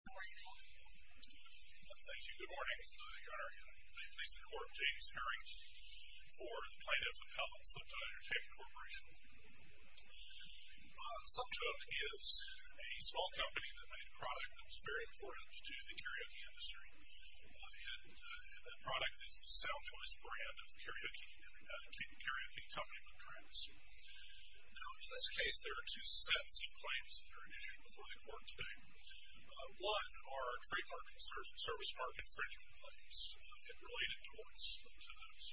Slep-Tone is a small company that made a product that was very important to the karaoke industry. The product is the Sound Choice brand of the karaoke company. In this case, there are two sets of claims that are at issue before the court today. One are trademark and service market infringement claims, and related torts to those,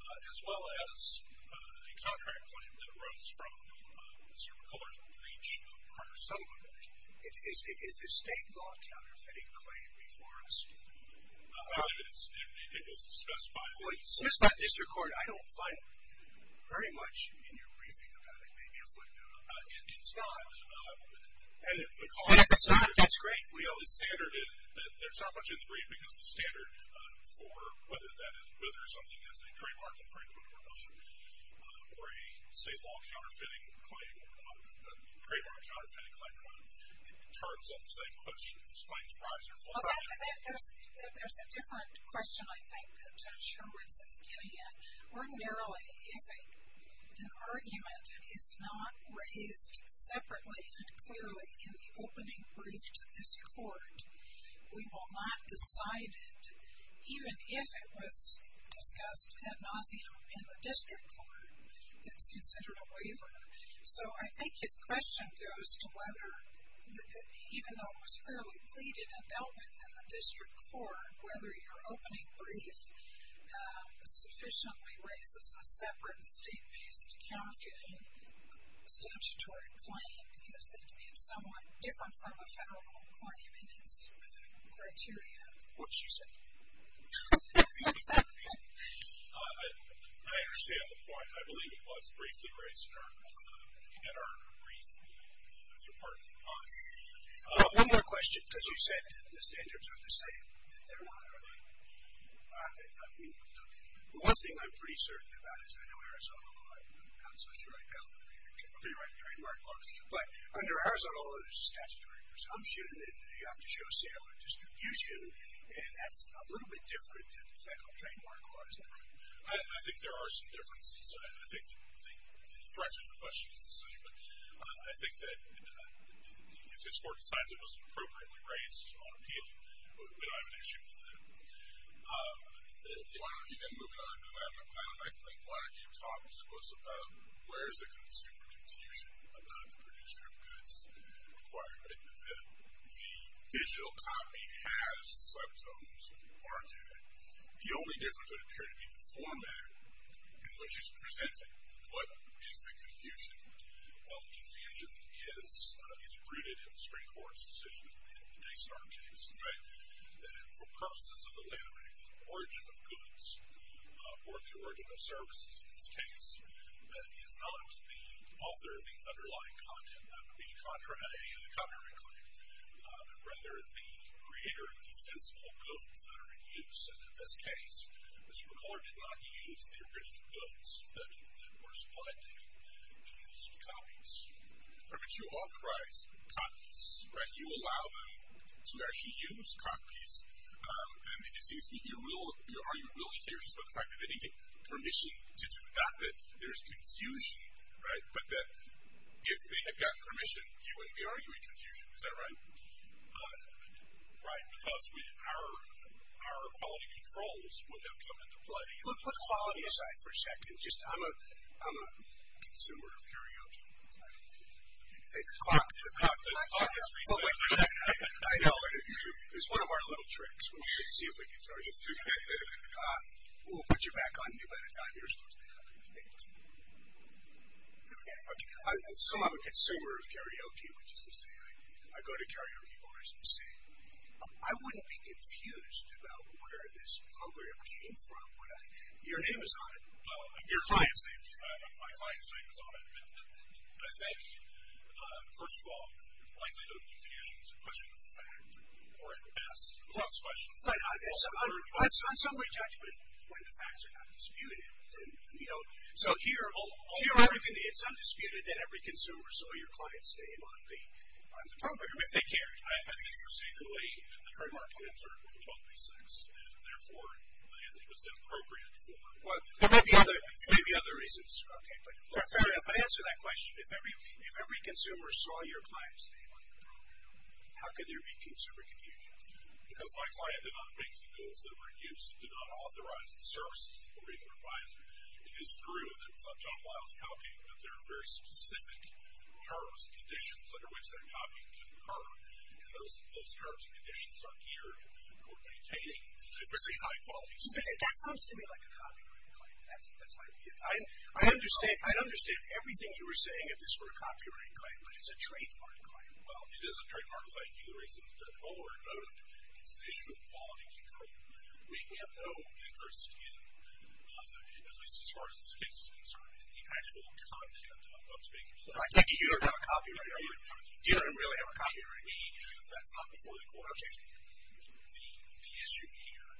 as well as a contract claim that arose from the Supreme Court's breach of prior settlement. Is this state law counterfeiting claim before us? It was discussed by the district court. I don't find very much in your briefing about it. Maybe a footnote. It's not. It's great. The standard is that there's not much in the brief because the standard for whether something is a trademark infringement or not, or a state law counterfeiting claim or not, a trademark counterfeiting claim or not, it turns on the same questions. Claims rise or fall. There's a different question, I think, that Judge Hurwitz is getting at. Ordinarily, if an argument is not raised separately and clearly in the opening brief to this court, we will not decide it, even if it was discussed ad nauseum in the district court, that it's considered a waiver. So I think his question goes to whether, even though it was fairly pleaded and dealt with in the district court, whether your opening brief sufficiently raises a separate state-based counterfeiting statutory claim because it's somewhat different from a federal claim in its criteria. What's your take? I understand the point. I believe it was briefly raised at our brief. One more question, because you said the standards are the same. They're not, are they? The one thing I'm pretty certain about is I know Arizona law. I'm not so sure I'd be able to figure out a trademark law. But under Arizona law, there's a statutory presumption that you have to show sale or distribution, and that's a little bit different than the federal trademark law, isn't it? I think there are some differences. I think the question is the same. I think that if this court decides it wasn't appropriately raised on appeal, we don't have an issue with that. And moving on, I think one of your topics was where is the consumer confusion about the producer of goods requirement, that the digital copy has subtotems or do they? The only difference would appear to be the format in which it's presented. What is the confusion? Well, the confusion is rooted in the Supreme Court's decision in the Daystar case, right, that for purposes of the landmark, the origin of goods or the origin of services in this case, is not the author of the underlying content. That would be a contrarian claim, rather the creator of the physical goods that are in use. And in this case, Mr. McCuller did not use the original goods that were supplied to him. He used copies. But you authorize copies, right? You allow them to actually use copies. And it seems to me you're arguing really seriously about the fact that they didn't get permission to do that, that there's confusion, right, but that if they had gotten permission, you wouldn't be arguing confusion, is that right? Right, because our quality controls would have come into play. Let's put quality aside for a second. I'm a consumer of karaoke. The clock has reset. I know. It's one of our little tricks. We'll see if we can turn it. We'll put you back on mute at a time. You're supposed to be on mute. Okay. So I'm a consumer of karaoke, which is to say I go to karaoke bars and sing. I wouldn't be confused about where this program came from. Your name is on it. Your client's name is on it. My client's name is on it. And I think, first of all, the likelihood of confusion is a question of fact, or at best, a loss question. But on some way of judgment, when the facts are not disputed, you know, so here it's undisputed that every consumer saw your client's name on the program if they cared. I think you're saying the way the trademark was observed was 1236, and therefore I think it was inappropriate for. Well, there may be other reasons. Okay, but fair enough. I answer that question. If every consumer saw your client's name on the program, how could there be consumer confusion? Because my client did not make the rules that were in use, did not authorize the services that were being provided. It is true that it's not John Lyle's copy, but there are very specific terms and conditions under which that copy can occur, and those terms and conditions are geared toward maintaining a very high-quality standard. That sounds to me like a copyright claim. That's my view. I understand everything you were saying if this were a copyright claim, but it's a trademark claim. Well, it is a trademark claim. Either reason is good. However, it's an issue of quality control. We have no interest in, at least as far as this case is concerned, in the actual content of the speakers. I take it you don't have a copy right now. You don't really have a copy right now. That's not before the court. Okay. The issue here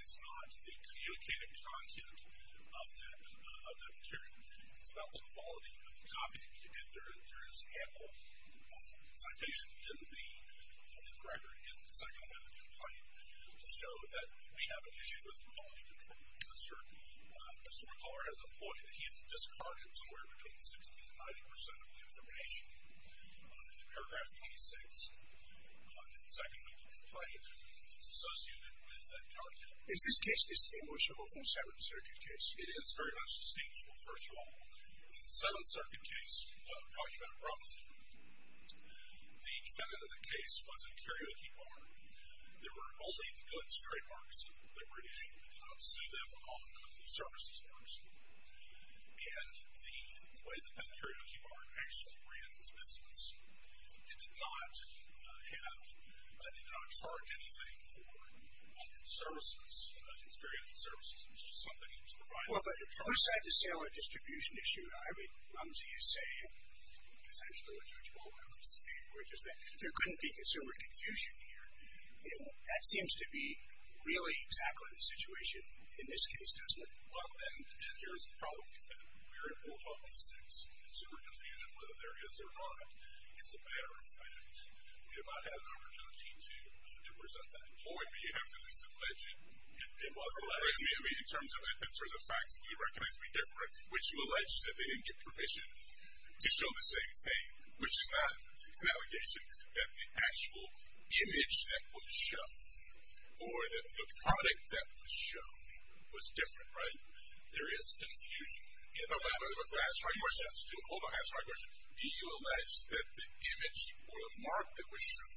is not the communicative content of that material. It's about the quality of the copy. There is ample citation in the record in the Second Amendment complaint to show that we have an issue with the quality control of the circuit. A storyteller has employed it. He has discarded somewhere between 60% and 90% of the information. In paragraph 26 of the Second Amendment complaint, it's associated with that document. Is this case distinguishable from the Seventh Circuit case? It is very much distinguishable, first of all. In the Seventh Circuit case, talking about Robinson, the defendant in the case was in karaoke bar. There were only the goods trademarks that were issued to them on the services bars. And the way that that karaoke bar actually ran its business, it did not charge anything for its services, its karaoke services. It was just something to provide. Well, if you're trying to sell a distribution issue, I would come to you saying, essentially what Judge Baldwin was saying, which is that there couldn't be consumer confusion here. And that seems to be really exactly the situation in this case, doesn't it? Well, and here's the problem. We're at Rule 12.6, consumer confusion, whether there is or not. It's a matter of fact. We might have an opportunity to present that. Or you have to disallege it. In terms of facts, we recognize we differ, which you allege is that they didn't get permission to show the same thing, which is not an allegation, that the actual image that was shown or the product that was shown was different, right? There is confusion. Hold on, I have a hard question. Do you allege that the image or the mark that was shown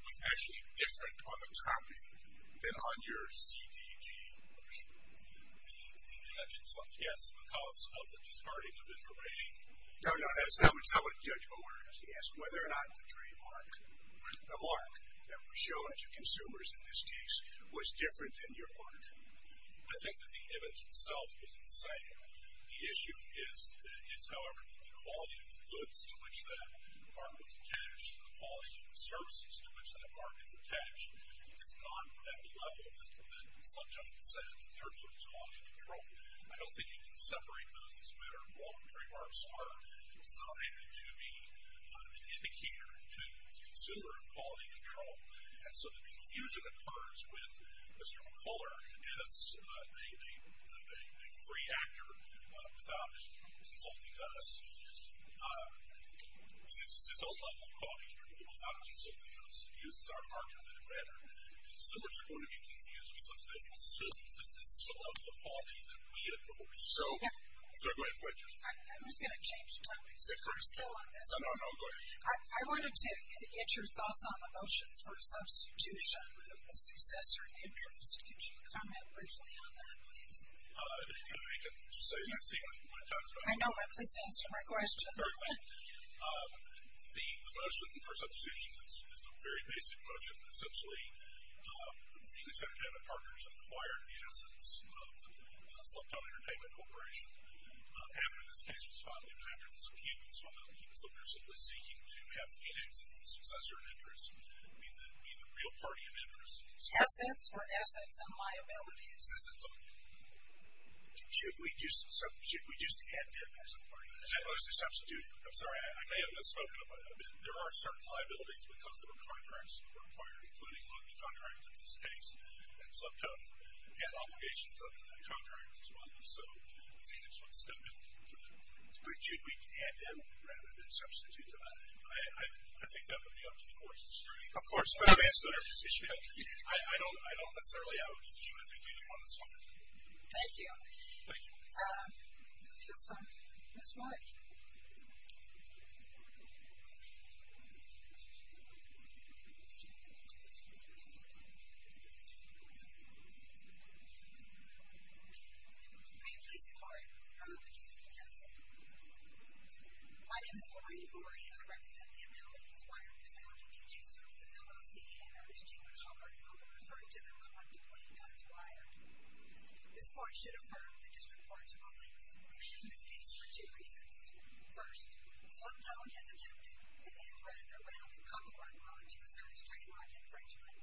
was actually different on the copy than on your CDG version? Yes, because of the discarding of information. No, no, that's not what Judge Baldwin asked. He asked whether or not the trademark, the mark that was shown to consumers in this case was different than your mark. I think that the image itself is the same. The issue is, however, the quality of the goods to which that mark was attached and the quality of the services to which that mark is attached. It's not at the level that the subject said in terms of quality control. I don't think you can separate those as a matter of law. Trademarks are designed to be indicators to the consumer of quality control. And so the confusion occurs with Mr. McCuller as a free actor without insulting us. It's a level of quality control without insulting us, because it's our mark rather than a record. Consumers are going to be confused because of the level of quality that we enforce. So, go ahead, go ahead, Judge. I was going to change topics. No, no, no, go ahead. I wanted to get your thoughts on the motion for substitution of the successor interest. Could you comment briefly on that, please? I know, but please answer my question. The motion for substitution is a very basic motion. Essentially, Phoenix Entertainment Partners acquired the assets of the Sloan County Entertainment Corporation after this case was filed. And after this appeal was filed, he was looking at simply seeking to have Phoenix as the successor in interest and be the real party in interest. Assets or assets and liabilities? Assets only. Should we just add them as a party? I'm sorry, I may have misspoken a bit. There are certain liabilities, because there were contracts that were acquired, including a lot of the contracts in this case, that slipped up and had obligations under the contract as well. So, Phoenix would step in. Should we add them rather than substitute them? I think that would be up to the Court's discretion. Of course. I don't necessarily have a position as we do on this one. Thank you. Thank you. Next one. Ms. Lori. Hi, I'm Lisa Lori. I'm a visiting counselor. My name is Lori Gorey, and I represent the American Inspired Facility Teaching Services, LLC, and our exchange with Harvard. I'll be referring to them collectively as wired. This Court should affirm the District Court's rulings. We have this case for two reasons. First, Sliptone has attempted an infrared and a rounded copyright law to assert his trademark infringement.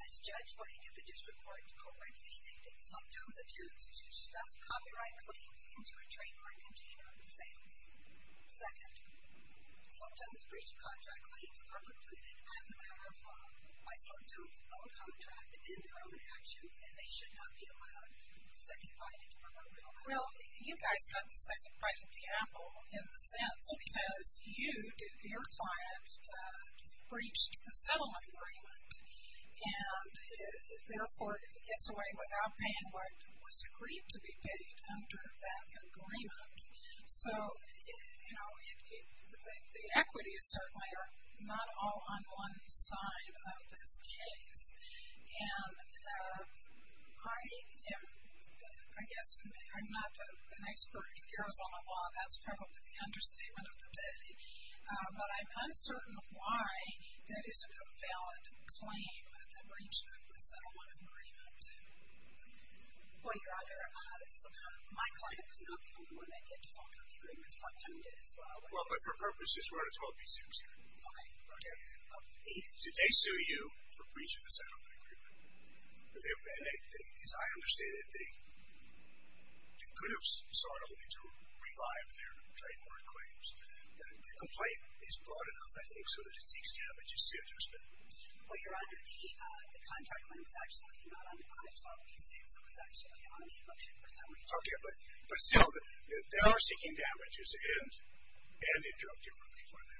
This judge would get the District Court to correctly state that Sliptone refused to stuff copyright claims into a trademark container and fails. Second, Sliptone's breach of contract claims are concluded as a matter of law by Sliptone's own contract and in their own actions, and they should not be allowed a second writing from a real client. Well, you guys got the second writing from Apple in the sense because you, your client, breached the settlement agreement, and therefore gets away without paying what was agreed to be paid under that agreement. So, you know, the equities certainly are not all on one side of this case, and I am, I guess I'm not an expert in Arizona law. That's probably the understatement of the day, but I'm uncertain why that isn't a valid claim that they breached the settlement agreement. Well, Your Honor, my client was not the only one that did. A couple of agreements, Bob Jones did as well. Well, but for purposes, we're going to talk these things here. Okay. Did they sue you for breaching the settlement agreement? As I understand it, they could have sought only to revive their trademark claims. The complaint is broad enough, I think, so that it seeks damages to a judgment. Well, Your Honor, the contract claim is actually not under 512B6. It was actually on the election for some reason. Okay, but still, they are seeking damages, and it drove differently for them.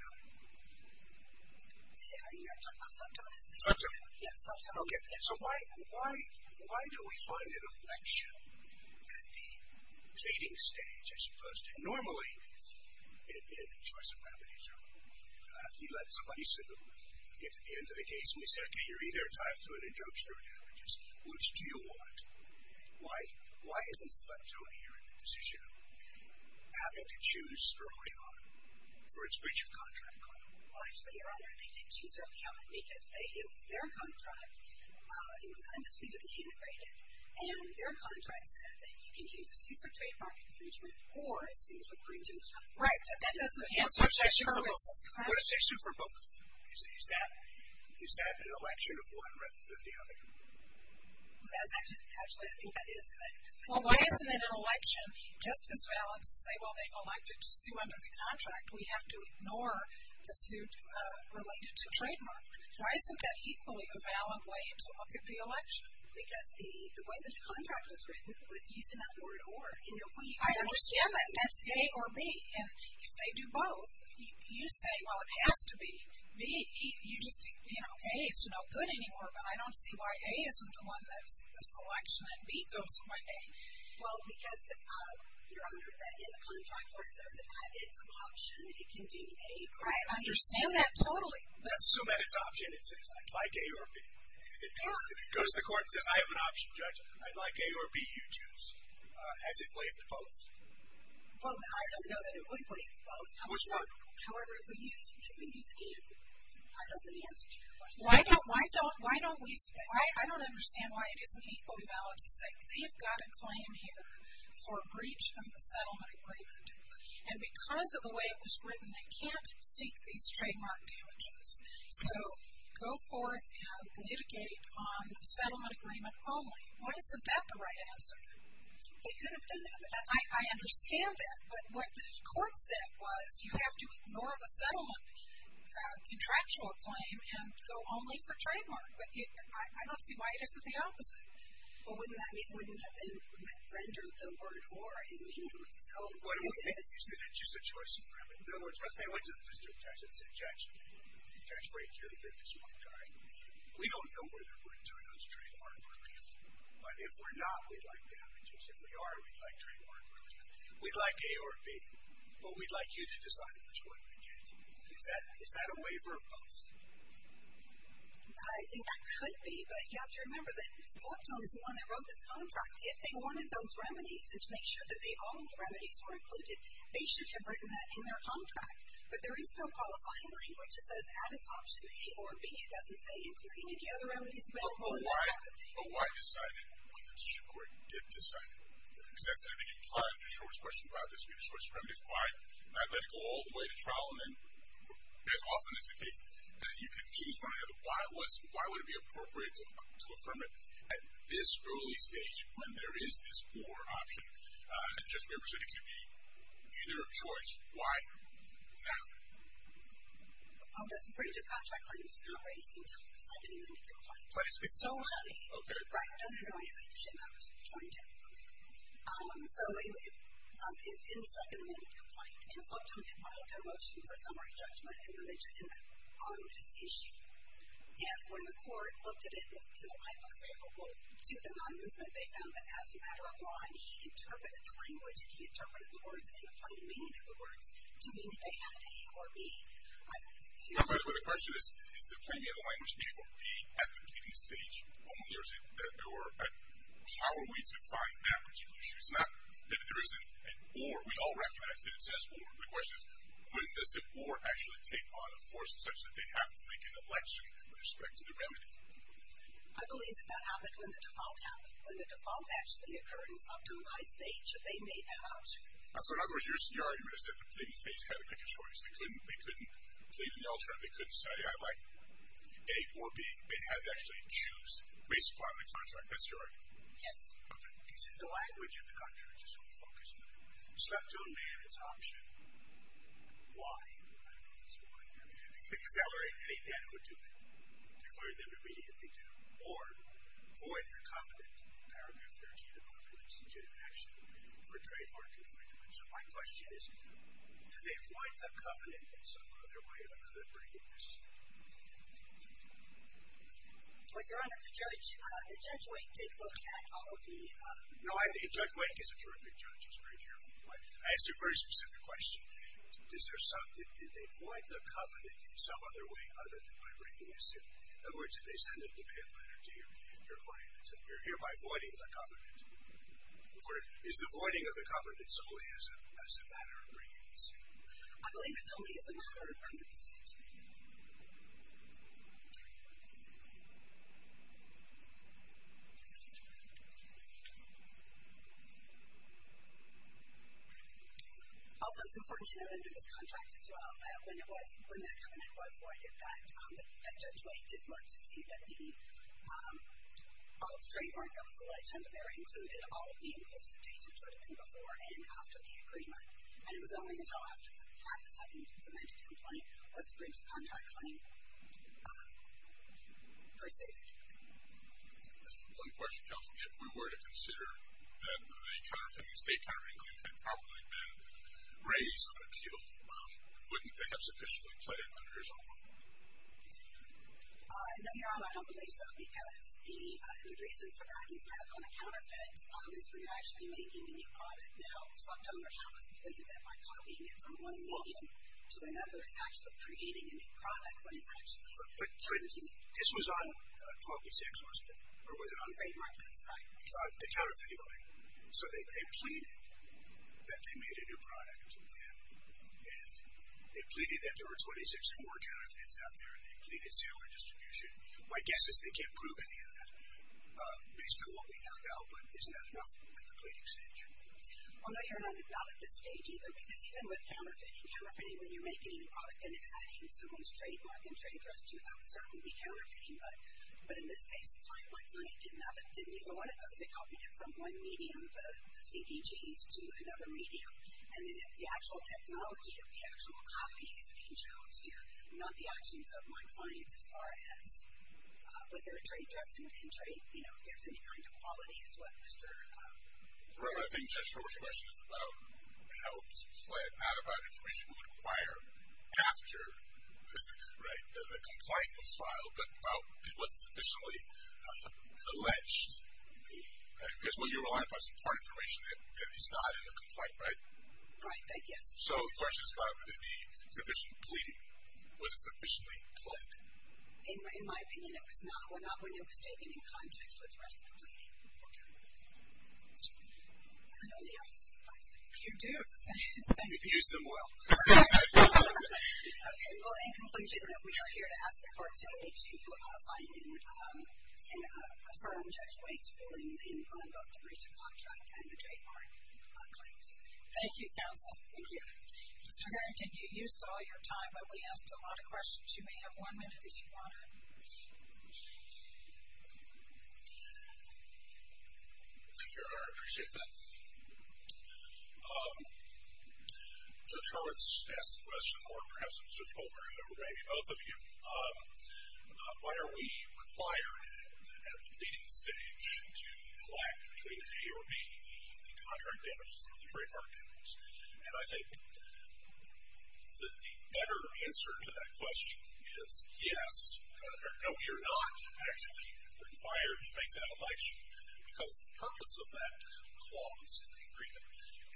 Are you talking about self-tolerance? Self-tolerance. Yeah, self-tolerance. Okay, so why do we find an election at the dating stage as opposed to normally, it had been a choice of remedy, so you let somebody get to the end of the case, and you said, okay, you're either entitled to an injunction or damages. Which do you want? Why is Inspector O'Neill in the decision having to choose early on for its breach of contract claim? Well, actually, Your Honor, they did choose early on because it was their contract. It was undisputedly integrated, and their contract said that you can use a suit for trademark infringement or a suit for breach of contract. Right, but that doesn't answer Mr. Hurwitz's question. What if they sued for both? Is that an election of one rather than the other? Actually, I think that is an election. Well, why isn't it an election just as valid to say, well, they elected to sue under the contract. We have to ignore the suit related to trademark. Why isn't that equally a valid way to look at the election? Because the way the contract was written was using that word or. I understand that. That's A or B. And if they do both, you say, well, it has to be B. You just, you know, A is no good anymore, but I don't see why A isn't the one that's the selection, and B goes with A. Well, because Your Honor, in the contract, it says that it's an option. It can be A or B. Right, I understand that totally. Let's assume that it's an option. It says, I'd like A or B. It goes to the court and says, I have an option, Judge. I'd like A or B, you choose. Has it waived both? Well, I don't know that it would waive both. Which one? However, if we use A, I don't see the answer to that question. Why don't we say, I don't understand why it isn't equally valid to say, they've got a claim here for breach of the settlement agreement, and because of the way it was written, they can't seek these trademark damages. So, go forth and litigate on the settlement agreement only. Why isn't that the right answer? It could have been. I understand that. But what the court said was, you have to ignore the settlement contractual claim and go only for trademark. But I don't see why it isn't the opposite. Well, wouldn't that render the word, or, in the end to itself? Why don't we make the case that it's just a choice agreement? In other words, let's say I went to the district judge and said, Judge, did Judge Brady care to get this one guy? We don't know whether we're doing those trademark relief. But if we're not, we'd like damages. If we are, we'd like trademark relief. We'd like A or B. But we'd like you to decide which one we get. Is that a waiver of purpose? I think that could be. But you have to remember that Selectone is the one that wrote this contract. If they wanted those remedies to make sure that all the remedies were included, they should have written that in their contract. But there is no qualifying language that says, add as option A or B. It doesn't say including any other remedies. But why decide it when the district court did decide it? Because that's, I think, implied in George's question about this being a short supremacist. Why not let it go all the way to trial and then, as often is the case, you can choose one or the other. Why would it be appropriate to affirm it at this early stage when there is this or option? And Judge Weber said it could be either of choice. Why not? This breach of contract claim is not raised until the second amended complaint. But it's been so long. Right. No, no, no, no. You shouldn't have it. You shouldn't have it. So it's in the second amended complaint. And Selectone did file their motion for summary judgment on this issue. And when the court looked at it, and the line looks favorable to the non-movement, they found that as a matter of law, he interpreted the language and he interpreted the words and the plain meaning of the words to mean that they had A or B. By the way, the question is, is the plain meaning of the language A or B at the pleading stage only, or how are we to find that particular issue? It's not that there isn't an or. We all recognize that it says or. The question is, when does an or actually take on a force such that they have to make an election with respect to the remedy? I believe that that happened when the default happened. When the default actually occurred in Selectone's high stage, they made that option. So in other words, your argument is that the pleading stage had to make a choice. They couldn't plead in the alternative. They couldn't say, I like A or B. They had to actually choose based upon the contract. That's your argument? Yes. Because the language of the contract is so focused on it. Selectone made its option Y. I don't know if it's Y. Accelerate any debt or do it. Declare them to be if they do. Or, void the covenant in paragraph 13 of Article 16 of Action for trademark infringement. So my question is, do they void the covenant in some other way other than breaking the suit? Well, Your Honor, the judge, Judge Wake did look at all of the No, Judge Wake is a terrific judge. He's very careful. But I asked a very specific question. Did they void the covenant in some other way other than by breaking the suit? In other words, did they send a debate letter to your client that said, You're hereby voiding the covenant. Is the voiding of the covenant solely as a matter of breaking the suit? I believe it's only as a matter of breaking the suit. Also, it's important to note under this contract as well, that when that covenant was voided, that Judge Wake did look to see that all of the trademark that was alleged under there included all of the inclusive data that would have been before and after the agreement. And it was only until after they had the second amended complaint was the breach of contract claim perceived. One question, counsel. If we were to consider that the state counterintuitive had probably been raised on appeal, wouldn't they have sufficiently played it under his own? No, Your Honor, I don't believe so. Because the reason for that is that on the counterfeit, is we are actually making a new product now. So I don't know how it's played that by copying it from one motion to another, it's actually creating a new product when it's actually being used. But this was on 12th and 6th, wasn't it? Or was it on 8th and 9th? 8th and 9th, that's right. The counterfeit claim. So they pleaded that they made a new product, and they pleaded that there were 26 or more counterfeits out there, and they pleaded sale or distribution. My guess is they can't prove any of that based on what we have now, but isn't that enough at the pleading stage? Well, no, Your Honor, not at this stage either. Because even with counterfeiting, counterfeiting when you're making a new product and it's adding someone's trademark and trade trust to it, that would certainly be counterfeiting. But in this case, my client didn't even want to go to copying it from one meeting of the CDGs to another meeting. And the actual technology of the actual copying is being judged here, not the actions of my client as far as whether a trade trust and trade, you know, if there's any kind of quality is what Mr. ---- Well, I think Judge Horwitz' question is about how it's played out, about information we would acquire after, right, the complaint was filed, but it was sufficiently alleged. I guess what you're relying upon is part information that is not in the complaint, right? Right, I guess. So the question is about the sufficient pleading. Was it sufficiently played? In my opinion, it was not, or not when it was taken in context with the rest of the pleading for counterfeiting. I know they are spicy. You do. Thank you. Use them well. Okay, well, in conclusion, we are here to ask the court today to find and affirm Judge White's feelings in both the breach of contract and the trademark claims. Thank you, counsel. Thank you. Mr. Garrington, you used all your time, but we asked a lot of questions. You may have one minute if you want to. Thank you, I appreciate that. Judge Horwitz asked the question, or perhaps it was Judge Goldberg, or maybe both of you, why are we required at the pleading stage to collect, between A or B, the contract damages and the trademark damages? And I think that the better answer to that question is yes, no, we are not actually required to make that election, because the purpose of that clause in the agreement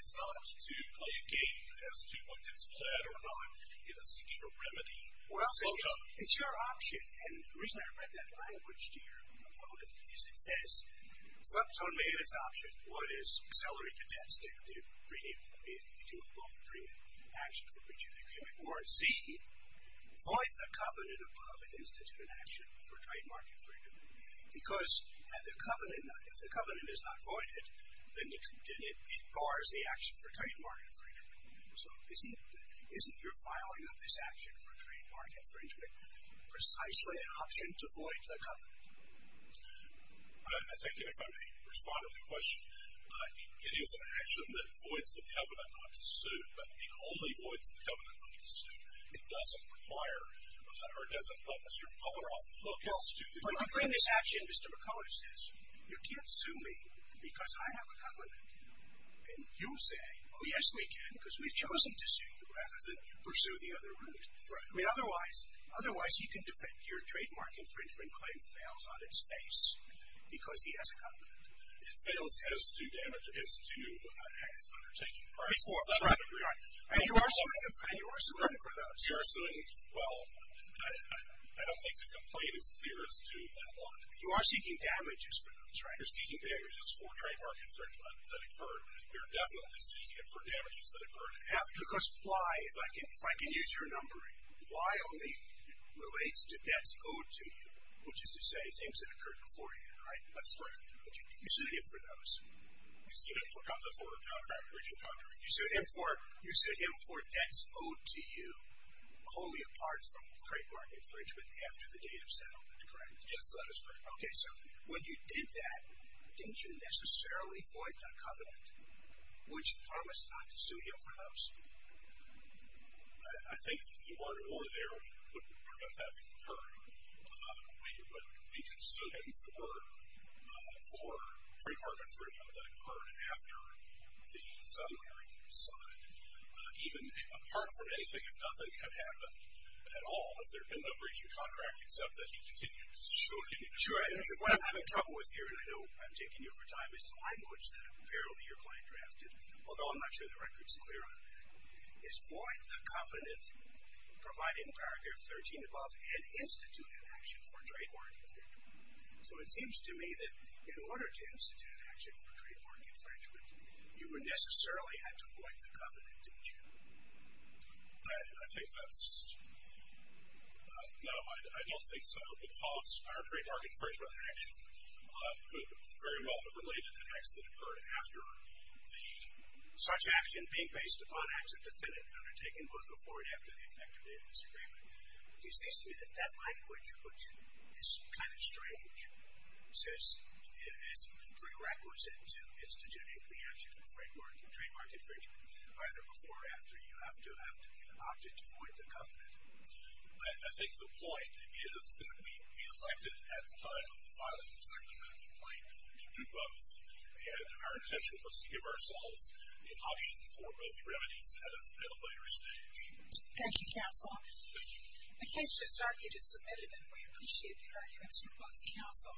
is not to play a game as to what gets pled or not. It is to give a remedy. Well, it's your option. And the reason I read that language to your vote is it says, it's not totally in its option, what is, accelerate the debts that you do above the brief action for breach of the agreement, or C, void the covenant above an instance of an action for trademark infringement. Because the covenant, if the covenant is not voided, then it bars the action for trademark infringement. So isn't your filing of this action for trademark infringement precisely an option to void the covenant? I think if I may respond to the question, it is an action that voids the covenant not to suit, but it only voids the covenant not to suit. It doesn't require, or it doesn't put a certain color off the book. Well, when you bring this action, Mr. McCulloch says, you can't sue me because I have a covenant. And you say, oh, yes, we can, because we've chosen to sue you rather than pursue the other route. Right. I mean, otherwise, otherwise you can defend your trademark infringement claim fails on its face because he has a covenant. It fails as to damage, as to acts of undertaking. Right. And you are suing for those. You are suing. Well, I don't think the complaint is clear as to that one. You are seeking damages for those, right? You're seeking damages for trademark infringement that occurred. You're definitely seeking it for damages that occurred after. Because why, if I can use your numbering, why only relates to debts owed to you, which is to say things that occurred before you, right? That's correct. Okay. You sued him for those. You sued him for contract breach of contract. You sued him for debts owed to you wholly apart from trademark infringement after the date of settlement, correct? Yes, that is correct. Okay. So when you did that, didn't you necessarily void that covenant, which promised not to sue him for those? I think if you weren't over there, we wouldn't prevent that from occurring. We can sue him for trademark infringement that occurred after the summary signed, even apart from anything, if nothing had happened at all, if there had been no breach of contract, except that he continued to sue. Sure. What I'm having trouble with here, and I know I'm taking you over time, is the language that apparently your client drafted, although I'm not sure the record's clear on that, is void the covenant providing paragraph 13 above and institute an action for trademark infringement. So it seems to me that in order to institute an action for trademark infringement, you would necessarily have to void the covenant, don't you? I think that's no. I don't think so, because our trademark infringement action could very well have related to acts that occurred after such action being based upon acts of defendant undertaken both before and after the effective date of this agreement. It seems to me that that language, which is kind of strange, says it is prerequisite to institute an action for trademark infringement either before or after you have to opt it to void the covenant. I think the point is that we elected at the time of the filing to do both, and our intention was to give ourselves the option for both remedies at a later stage. Thank you, counsel. Thank you. The case just argued is submitted, and we appreciate the arguments from both counsel.